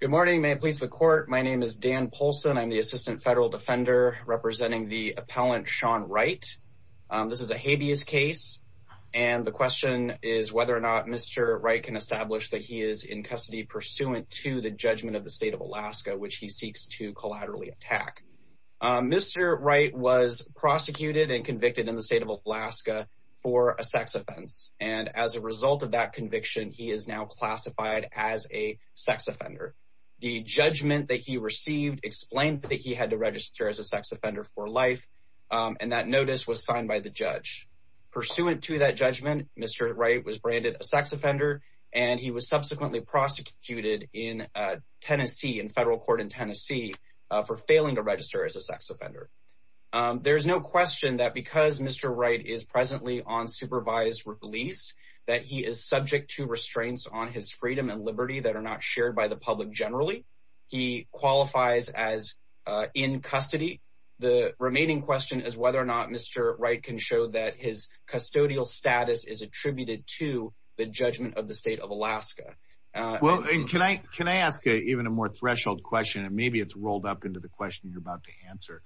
Good morning may it please the court my name is Dan Poulsen I'm the assistant federal defender representing the appellant Sean Wright. This is a habeas case and the question is whether or not Mr. Wright can establish that he is in custody pursuant to the judgment of the state of Alaska which he seeks to collaterally attack. Mr. Wright was prosecuted and convicted in the state of Alaska for a sex offense and as a result of that conviction he is now classified as a sex offender. The judgment that he received explained that he had to register as a sex offender for life and that notice was signed by the judge. Pursuant to that judgment Mr. Wright was branded a sex offender and he was subsequently prosecuted in Tennessee in federal court in Tennessee for failing to register as a sex offender. There's no question that because Mr. Wright is presently on supervised release that he is subject to restraints on his freedom and liberty that are not shared by the public generally. He qualifies as in custody. The remaining question is whether or not Mr. Wright can show that his custodial status is attributed to the judgment of the state of Alaska. Well and can I can I ask even a more threshold question and maybe it's rolled up into the question you're about to answer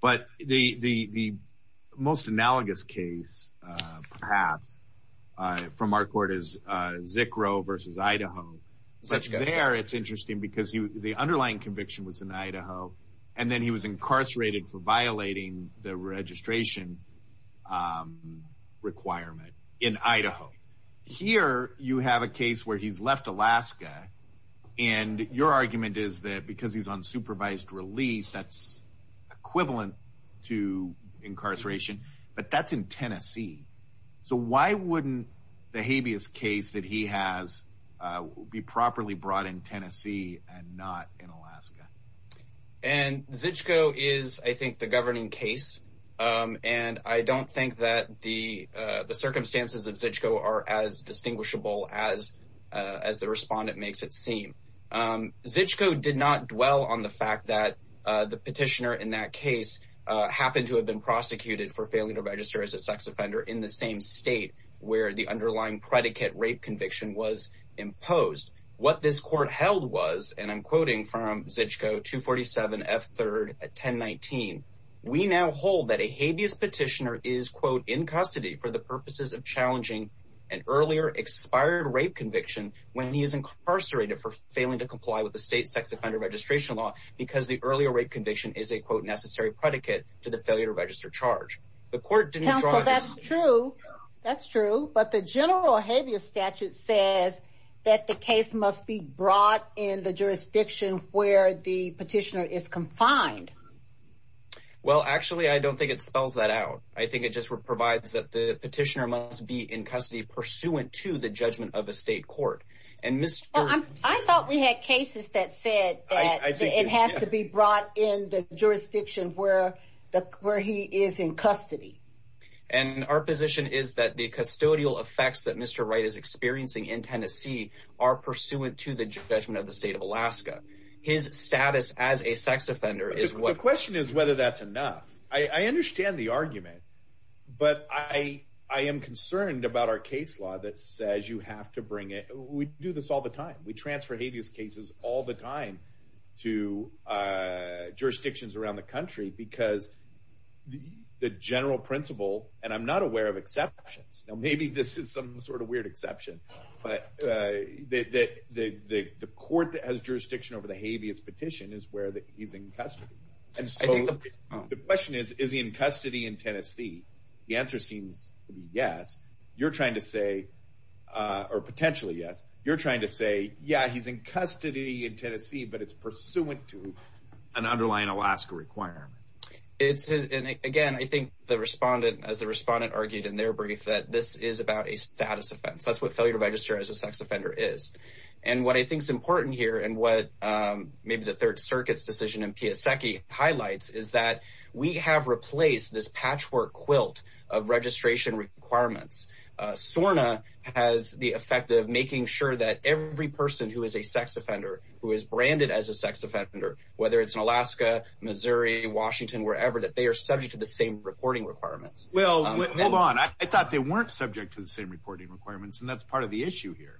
but the the most analogous case perhaps from our court is Zickro versus Idaho. There it's interesting because he the underlying conviction was in Idaho and then he was incarcerated for violating the registration requirement in Idaho. Here you have a case where he's left Alaska and your argument is that because he's on supervised release that's equivalent to incarceration but that's in Tennessee so why wouldn't the habeas case that he has be properly brought in Tennessee and not in Alaska? And Zickro is I think the governing case and I don't think that the the circumstances of Zickro are as distinguishable as as the respondent makes it seem. Zickro did not dwell on the fact that the petitioner in that case happened to have been prosecuted for failing to register as a sex offender in the same state where the underlying predicate rape conviction was imposed. What this court held was and I'm quoting from Zickro 247 F 3rd at 1019 we now hold that a habeas petitioner is quote in custody for the purposes of challenging an earlier expired rape conviction when he is incarcerated for failing to comply with the state sex offender registration law because the earlier rape conviction is a quote necessary predicate to the failure to register charge. The court didn't draw this... Counsel that's true that's true but the general habeas statute says that the case must be brought in the jurisdiction where the petitioner is confined. Well actually I don't think it spells that out I think it just provides that the petitioner must be in custody pursuant to the judgment of a state court. I thought we had cases that said it has to be brought in the jurisdiction where the where he is in custody. And our position is that the custodial effects that Mr. Wright is experiencing in Tennessee are pursuant to the judgment of the state of Alaska. His status as a sex offender is what... The question is whether that's enough I understand the argument but I I am concerned about our case law that says you have to bring it we do this all the time we transfer habeas cases all the time to jurisdictions around the country because the general principle and I'm not aware of exceptions now maybe this is some sort of weird exception but that the court that has jurisdiction over the habeas petition is where that he's in custody and so the question is is he in custody in Tennessee the answer seems yes you're trying to say or potentially yes you're in custody in Tennessee but it's pursuant to an underlying Alaska requirement. It's again I think the respondent as the respondent argued in their brief that this is about a status offense that's what failure to register as a sex offender is and what I think is important here and what maybe the Third Circuit's decision in Piascecki highlights is that we have replaced this patchwork quilt of registration requirements. SORNA has the effect of making sure that every person who is a sex offender who is branded as a sex offender whether it's in Alaska, Missouri, Washington, wherever that they are subject to the same reporting requirements. Well hold on I thought they weren't subject to the same reporting requirements and that's part of the issue here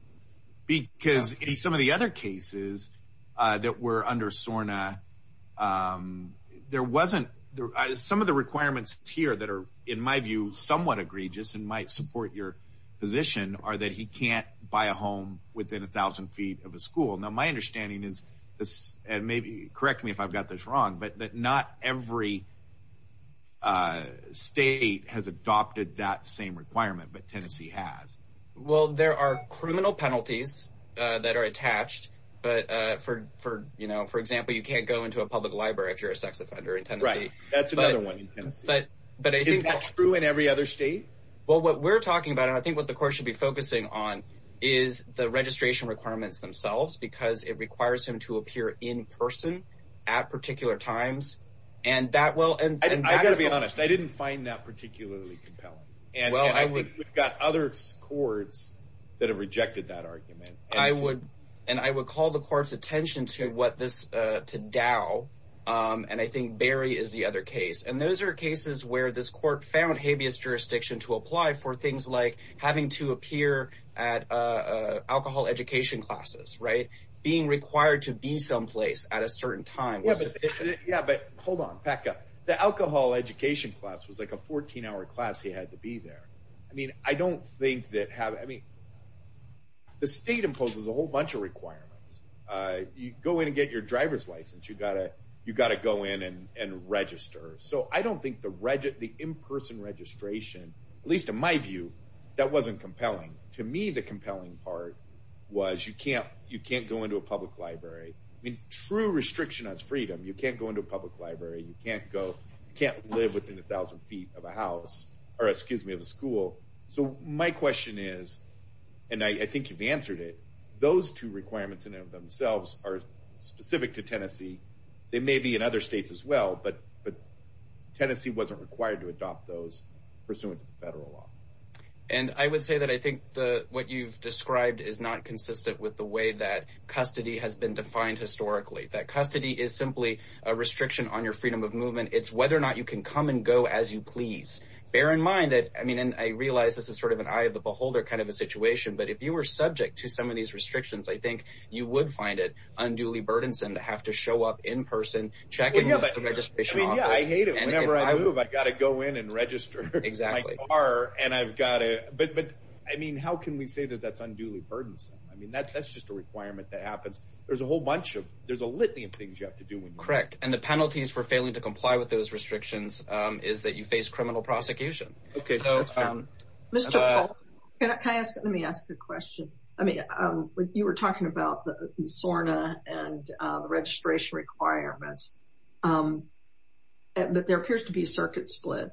because in some of the other cases that were under SORNA there wasn't there some of the requirements here that are in my view somewhat egregious and might support your position are that he can't buy a home within a thousand feet of a school. Now my understanding is this and maybe correct me if I've got this wrong but that not every state has adopted that same requirement but Tennessee has. Well there are criminal penalties that are attached but for you know for example you can't go into a public library if you're a sex offender in Tennessee. Is that true in every other state? Well what we're talking about I think what the court should be focusing on is the registration requirements themselves because it requires him to appear in person at particular times and that well and I gotta be honest I didn't find that particularly compelling and well I think we've got other courts that have rejected that argument. I would and I would call the court's attention to what this to and I think Barry is the other case and those are cases where this court found habeas jurisdiction to apply for things like having to appear at alcohol education classes right being required to be someplace at a certain time. Yeah but hold on back up the alcohol education class was like a 14-hour class he had to be there. I mean I don't think that have any the state imposes a whole license you got it you got to go in and register so I don't think the regi the in-person registration at least in my view that wasn't compelling to me the compelling part was you can't you can't go into a public library I mean true restriction as freedom you can't go into a public library you can't go can't live within a thousand feet of a house or excuse me of a school so my question is and I think you've answered it those two requirements in of themselves are specific to Tennessee they may be in other states as well but but Tennessee wasn't required to adopt those pursuant to the federal law and I would say that I think the what you've described is not consistent with the way that custody has been defined historically that custody is simply a restriction on your freedom of movement it's whether or not you can come and go as you please bear in mind that I mean and I realize this is sort of an eye of the beholder kind of a situation but if you were subject to some of these restrictions I think you would find it unduly burdensome to have to show up in person check I hate it whenever I move I got to go in and register exactly are and I've got it but but I mean how can we say that that's unduly burdensome I mean that's just a requirement that happens there's a whole bunch of there's a litany of things you have to do correct and the penalties for failing to comply with those restrictions is that you face criminal prosecution okay so it's found mr. can I ask let me ask a question I mean you were talking about the SORNA and registration requirements but there appears to be circuit split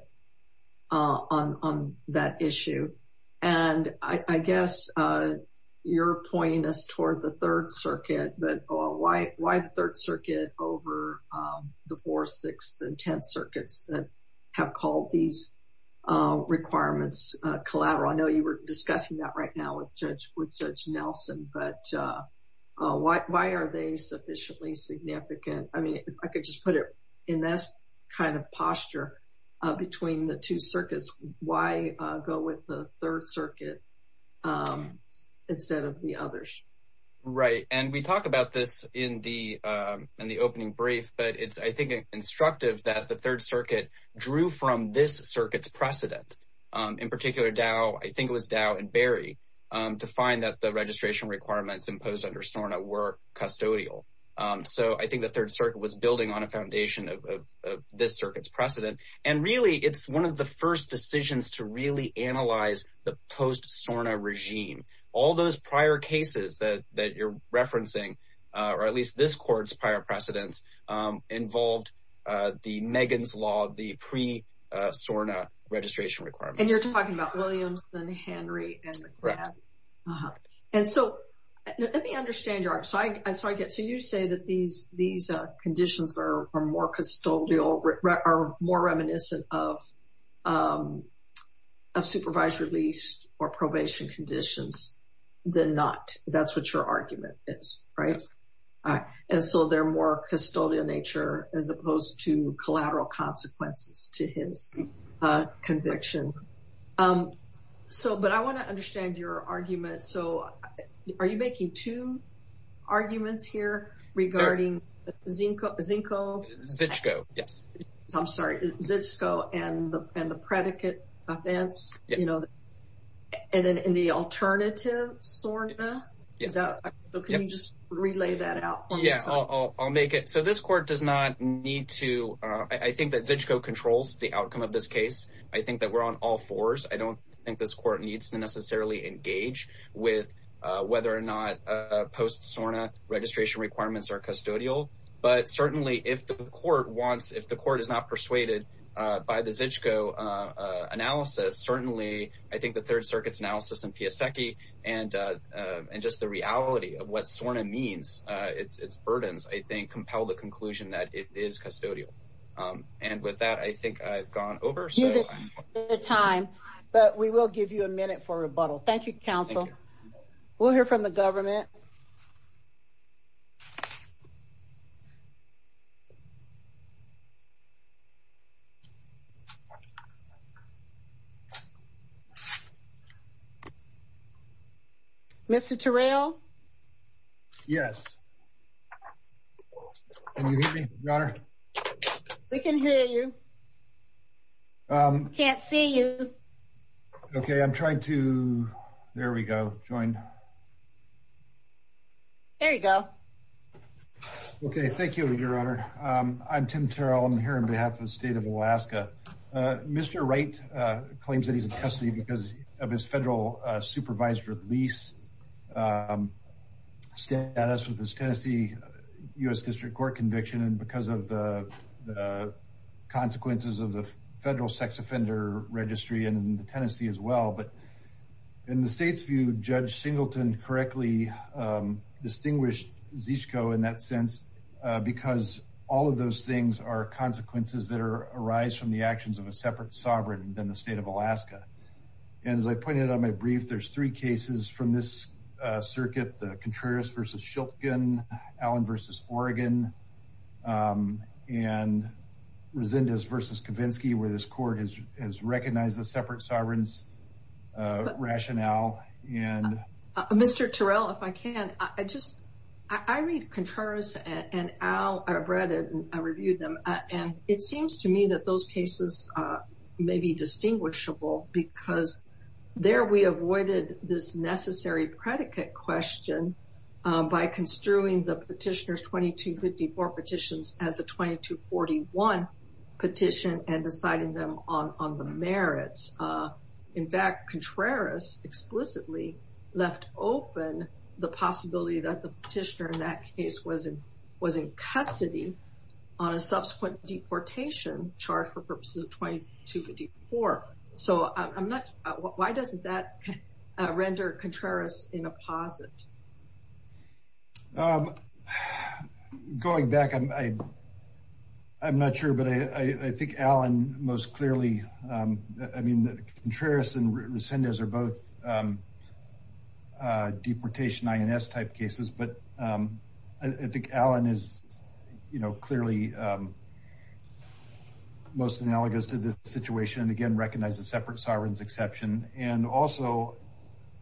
on that issue and I guess you're pointing us toward the Third Circuit but why why the Third Circuit over the four six and ten circuits that have called these requirements collateral I know you were discussing that right now with judge with judge Nelson but why are they sufficiently significant I mean I could just put it in this kind of posture between the two circuits why go with the Third Circuit instead of the others right and we talked about this in the in the opening brief but it's I think instructive that the Third Circuit drew from this circuits precedent in particular Dow I think it was Dow and Barry to find that the registration requirements imposed under SORNA were custodial so I think the Third Circuit was building on a foundation of this circuits precedent and really it's one of the first decisions to really analyze the post SORNA regime all those prior cases that that you're referencing or at courts prior precedents involved the Megan's law the pre SORNA registration requirement and you're talking about Williams then Henry and so let me understand your art so I so I get so you say that these these conditions are more custodial are more reminiscent of of supervised release or probation conditions then not that's what your argument is right and so they're more custodial nature as opposed to collateral consequences to his conviction so but I want to understand your argument so are you making two arguments here regarding Zinco Zinco Zizko yes I'm sorry Zizko and the predicate offense you know and then in the alternative SORNA yeah so can you just relay that out yeah I'll make it so this court does not need to I think that Zizko controls the outcome of this case I think that we're on all fours I don't think this court needs to necessarily engage with whether or not post SORNA registration requirements are custodial but certainly if the court wants if the analysis certainly I think the Third Circuit's analysis and Pia Secchi and and just the reality of what SORNA means it's it's burdens I think compel the conclusion that it is custodial and with that I think I've gone over the time but we will give you a minute for rebuttal Thank You counsel we'll hear from the Mr. Terrell yes we can hear you can't see you okay I'm trying to there we go join there you go okay thank you your honor I'm Tim Terrell I'm here on behalf of the state of Alaska Mr. Wright claims that he's in custody because of his federal supervised release status with this Tennessee US District Court conviction and because of the consequences of the federal sex offender registry and in Tennessee as well but in the state's view judge Singleton correctly distinguished Zizko in that sense because all of those things are consequences that are arise from the actions of a separate sovereign than the state of Alaska and as I pointed out my brief there's three cases from this circuit the Contreras versus Shelton Allen versus Oregon and Resendez versus Kavinsky where this court is has recognized the separate sovereigns rationale and mr. Terrell if I can I just I read Contreras and Al are breaded and it seems to me that those cases may be distinguishable because there we avoided this necessary predicate question by construing the petitioners 2254 petitions as a 2241 petition and deciding them on on the merits in fact Contreras explicitly left open the possibility that the petitioner in that case wasn't was in custody on a subsequent deportation charge for purposes of 2254 so I'm not why doesn't that render Contreras in a posit going back and I I'm not sure but I think Alan most clearly I mean the I think Alan is you know clearly most analogous to this situation and again recognize the separate sovereigns exception and also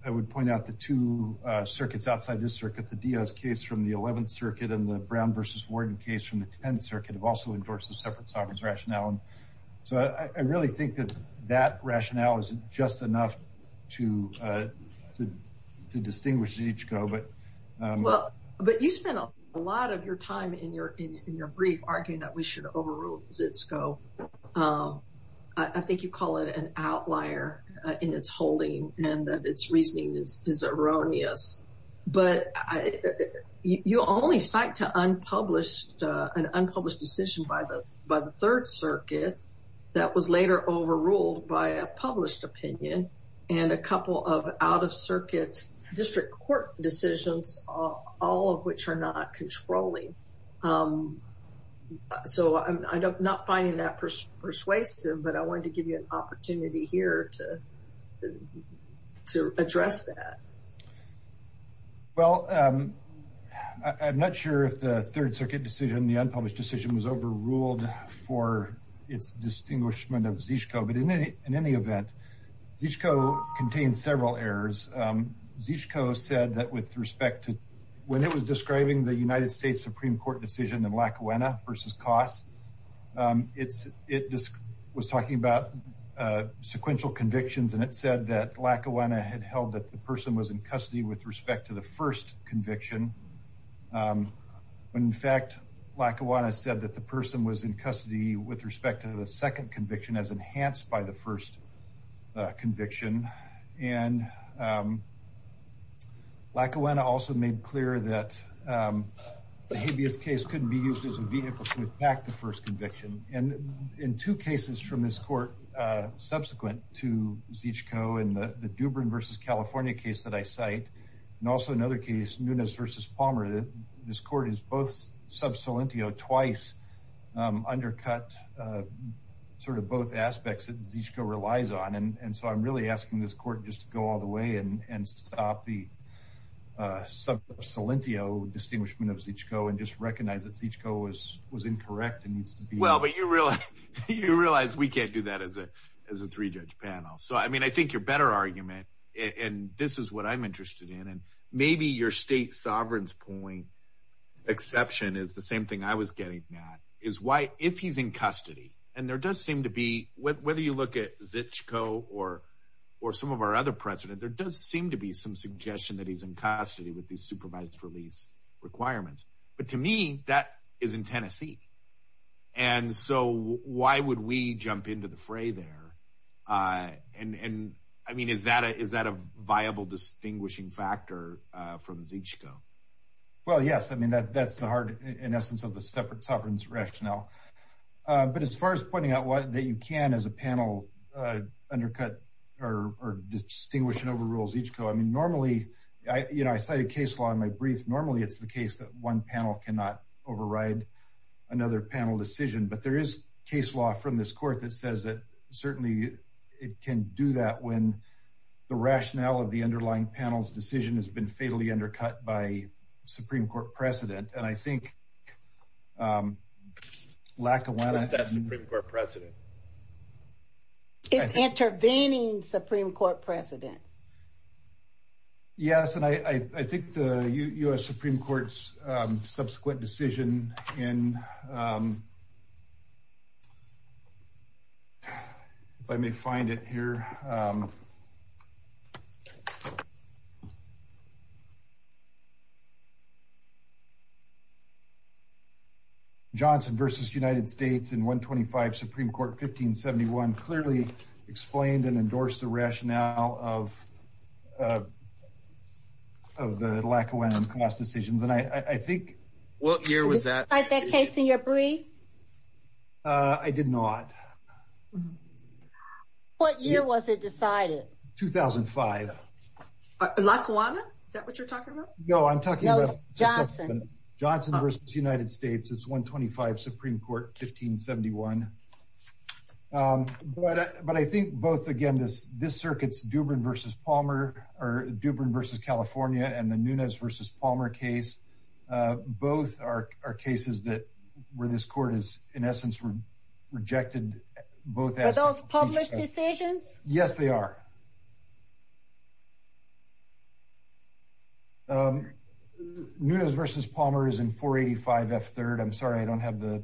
I would point out the two circuits outside this circuit the Diaz case from the 11th Circuit and the Brown versus Warden case from the 10th Circuit have also endorsed the separate sovereigns rationale and so I really think that that rationale is just enough to distinguish each go but well but you spent a lot of your time in your in your brief arguing that we should overrules its go I think you call it an outlier in its holding and that its reasoning is erroneous but I you only cite to unpublished an unpublished decision by the by the Third Circuit that was later overruled by a published opinion and a couple of out-of-circuit district court decisions all of which are not controlling so I'm not finding that persuasive but I wanted to give you an opportunity here to to address that well I'm not sure if the Third Circuit decision the unpublished decision was but in any in any event each co contains several errors each co said that with respect to when it was describing the United States Supreme Court decision and Lackawanna versus costs it's it just was talking about sequential convictions and it said that Lackawanna had held that the person was in custody with respect to the first conviction when in fact Lackawanna said that the person was in by the first conviction and Lackawanna also made clear that the habeas case couldn't be used as a vehicle to attack the first conviction and in two cases from this court subsequent to each co in the the Dubrin versus California case that I cite and also another case Nunez versus Palmer that this court is both twice undercut sort of both aspects that each co relies on and and so I'm really asking this court just to go all the way and and stop the sub solentio distinguishment of each co and just recognize that each co was was incorrect and needs to be well but you realize you realize we can't do that as a as a three-judge panel so I mean I think your better argument and this is what I'm exception is the same thing I was getting is why if he's in custody and there does seem to be whether you look at Zichco or or some of our other president there does seem to be some suggestion that he's in custody with these supervised release requirements but to me that is in Tennessee and so why would we jump into the fray there and and I mean is that is that a viable distinguishing factor from Zichco well yes I mean that that's the heart in essence of the separate sovereigns rationale but as far as pointing out what that you can as a panel undercut or distinguish and overrules each co I mean normally I you know I say a case law in my brief normally it's the case that one panel cannot override another panel decision but there is case law from this panel's decision has been fatally undercut by Supreme Court precedent and I think lack of president intervening Supreme Court precedent yes and I think the US Supreme Court's subsequent decision in if I may find it here Johnson versus United States in 125 Supreme Court 1571 clearly explained and decisions and I I think what year was that I did not what year was it decided 2005 no I'm talking about Johnson versus United States it's 125 Supreme Court 1571 but but I think both again this this circuits Dubron versus Palmer or Dubron versus California and the Nunez versus Palmer case both are our cases that where this court is in essence were rejected both those public decisions yes they are Nunez versus Palmer is in 485 f3rd I'm sorry I don't have the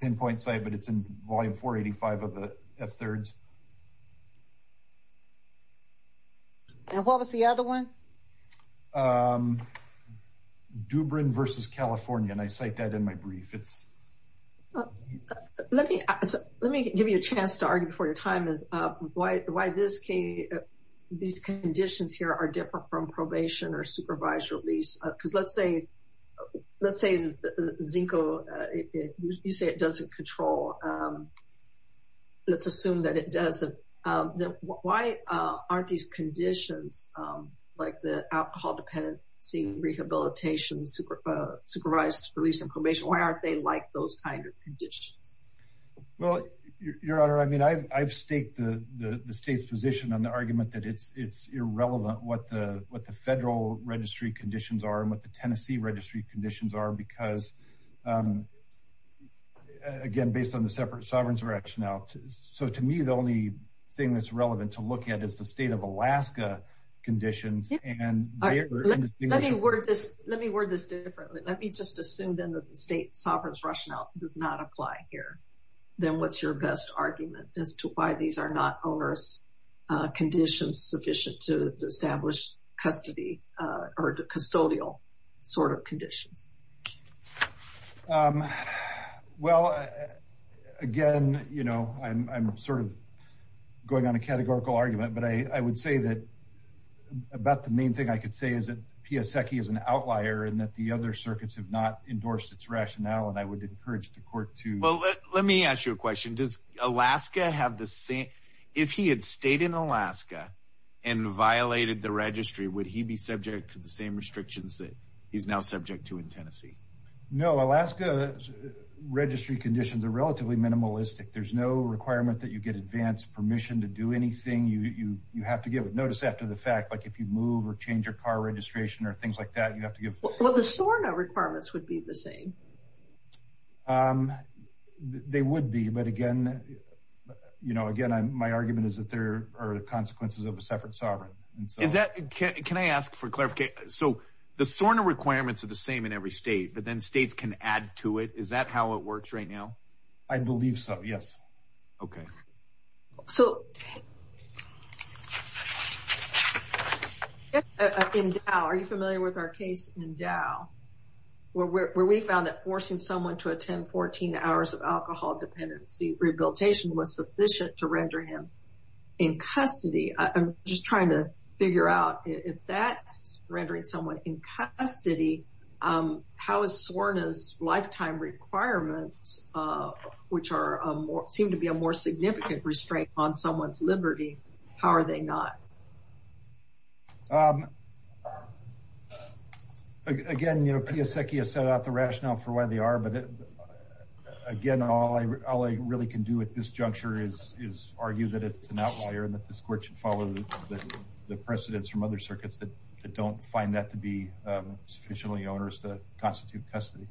pinpoint site but it's in volume 485 of the f3rds and what was the other one Dubron versus California and I cite that in my brief it's let me let me give you a chance to argue before your time is up why why this key these conditions here are different from probation or supervised release because let's say Zinco you say it doesn't control let's assume that it does why aren't these conditions like the alcohol-dependent seeing rehabilitation supervised release information why aren't they like those kind of conditions well your honor I mean I've staked the the state's position on the argument that it's it's irrelevant what the what the federal registry conditions are and what the conditions are because again based on the separate sovereigns rationale so to me the only thing that's relevant to look at is the state of Alaska conditions and let me word this differently let me just assume then that the state sovereigns rationale does not apply here then what's your best argument as to why these are not onerous conditions sufficient to establish custody or custodial sort of conditions well again you know I'm sort of going on a categorical argument but I would say that about the main thing I could say is that Pia Secchi is an outlier and that the other circuits have not endorsed its rationale and I would encourage the court to let me ask you a question does Alaska have the same if he had stayed in Alaska and violated the registry would he be subject to the same restrictions that he's now subject to in Tennessee no Alaska registry conditions are relatively minimalistic there's no requirement that you get advanced permission to do anything you you you have to give notice after the fact like if you move or change your car registration or things like that you have to give well the store no requirements would be the same they would be but again you know again I'm my argument is that there are the consequences of a separate sovereign is that can I ask for clarification so the SORNA requirements are the same in every state but then states can add to it is that how it works right now I believe so yes okay so are you familiar with our case in Dow where we found that forcing someone to attend 14 hours of alcohol dependency rehabilitation was sufficient to render him in custody I'm just trying to figure out if that's rendering someone in custody how is sworn as lifetime requirements which are more seem to be a more significant restraint on someone's Liberty how are they not again you know Pia Secchia set out the rationale for why they are but it again all I really can do at this juncture is is argue that it's an outlier and that this court should follow the precedents from other circuits that don't find that to be sufficiently onerous to constitute custody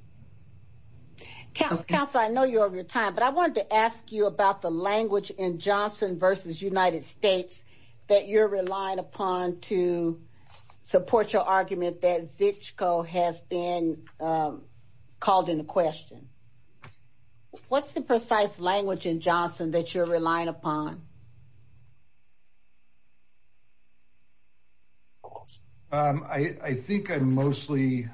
council I know you have your time but I wanted to ask you about the language in Johnson versus United States that you're relying upon to support your argument that Zichco has been called in question what's the precise language in Johnson that you're relying upon I think I'm mostly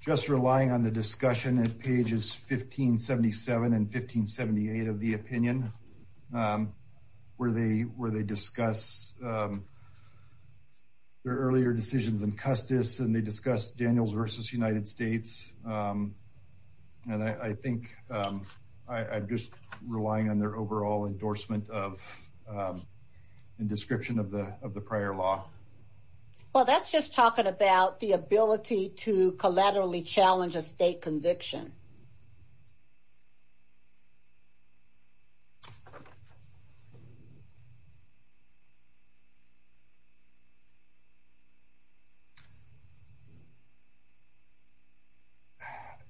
just relying on the discussion at pages 1577 and 1578 of the opinion where they were they discuss their earlier decisions in Custis and they discuss Daniels versus United States and I think I'm just relying on their overall endorsement of in description of the of the prior law well that's just talking about the ability to collaterally challenge a state conviction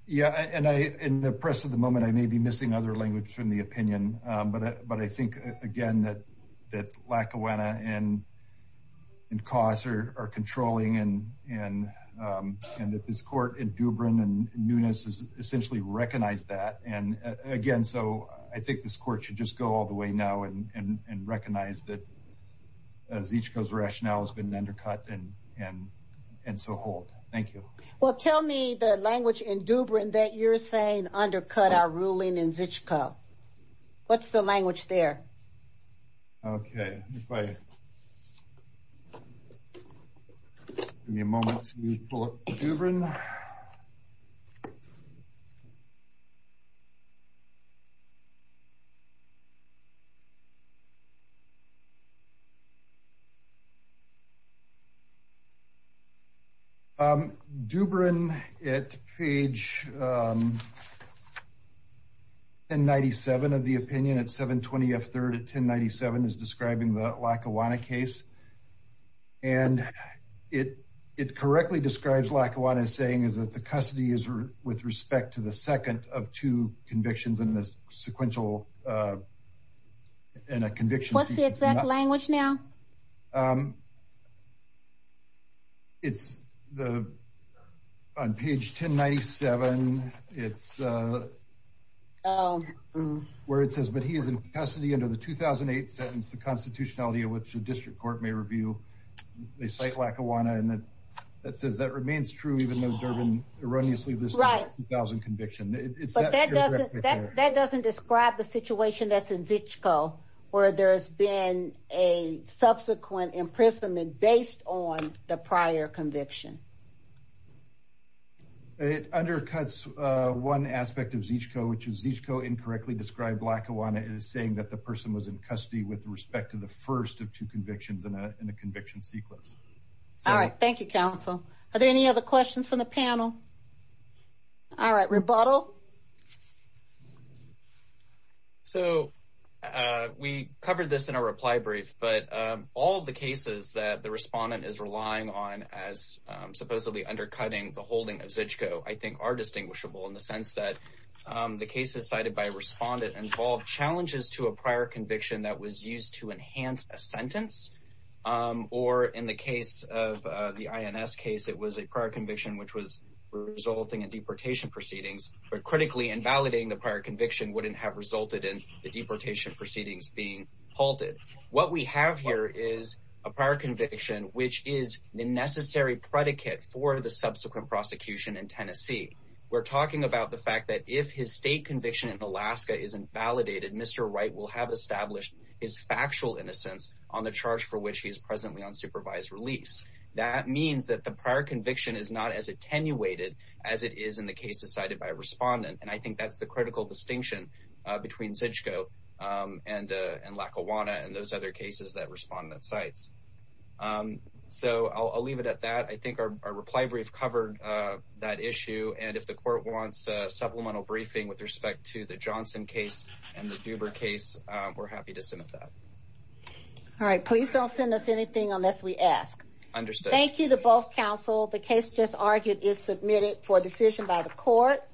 yeah and I in the press at the moment I may be missing other language from the opinion but but I think again that that Lackawanna and in cause are controlling and and and that this court in Dubron and Nunes is essentially recognized that and again so I think this court should just go all the way now and and and recognize that as each goes rationale has been undercut and and and so hold thank you well tell me the language in Dubron that you're saying undercut our ruling in Dubron it page and 97 of the opinion at 720 f-3rd at 1097 is describing the Lackawanna case and it it correctly describes Lackawanna is saying is that the custody is with respect to the second of two convictions in this sequential and a conviction what's the exact language now it's the on page 1097 it's where it says but he is in custody under the 2008 sentence the constitutionality of which the district court may review they cite Lackawanna and that that says that remains true even though Durbin erroneously this conviction that doesn't describe the situation that's in Zichco where there's been a subsequent imprisonment based on the prior conviction it undercuts one aspect of Zichco which is Zichco incorrectly described Lackawanna is saying that the person was in custody with respect to the first of two convictions in a conviction sequence all right thank you counsel are there any other questions from the panel all right rebuttal so we covered this in a reply brief but all the cases that the respondent is relying on as supposedly undercutting the holding of Zichco I think are distinguishable in the sense that the case is cited by respondent involved challenges to a prior conviction that was used to enhance a sentence or in the case of the INS case it was a prior conviction which was resulting in deportation proceedings but critically invalidating the prior conviction wouldn't have resulted in the deportation proceedings being halted what we have here is a prior conviction which is the necessary predicate for the subsequent prosecution in Tennessee we're talking about the fact that if his state conviction in Alaska is invalidated mr. Wright will have established his factual innocence on the charge for which he is presently on supervised release that means that the prior conviction is not as attenuated as it is in the case decided by respondent and I think that's the critical distinction between Zichco and and Lackawanna and those other cases that respond that sites so I'll leave it at that I think our reply brief covered that issue and if the court wants supplemental briefing with respect to the Johnson case and the Duber case we're happy to submit that all right please don't send us anything unless we ask understood thank you to both counsel the case just argued is submitted for decision by the court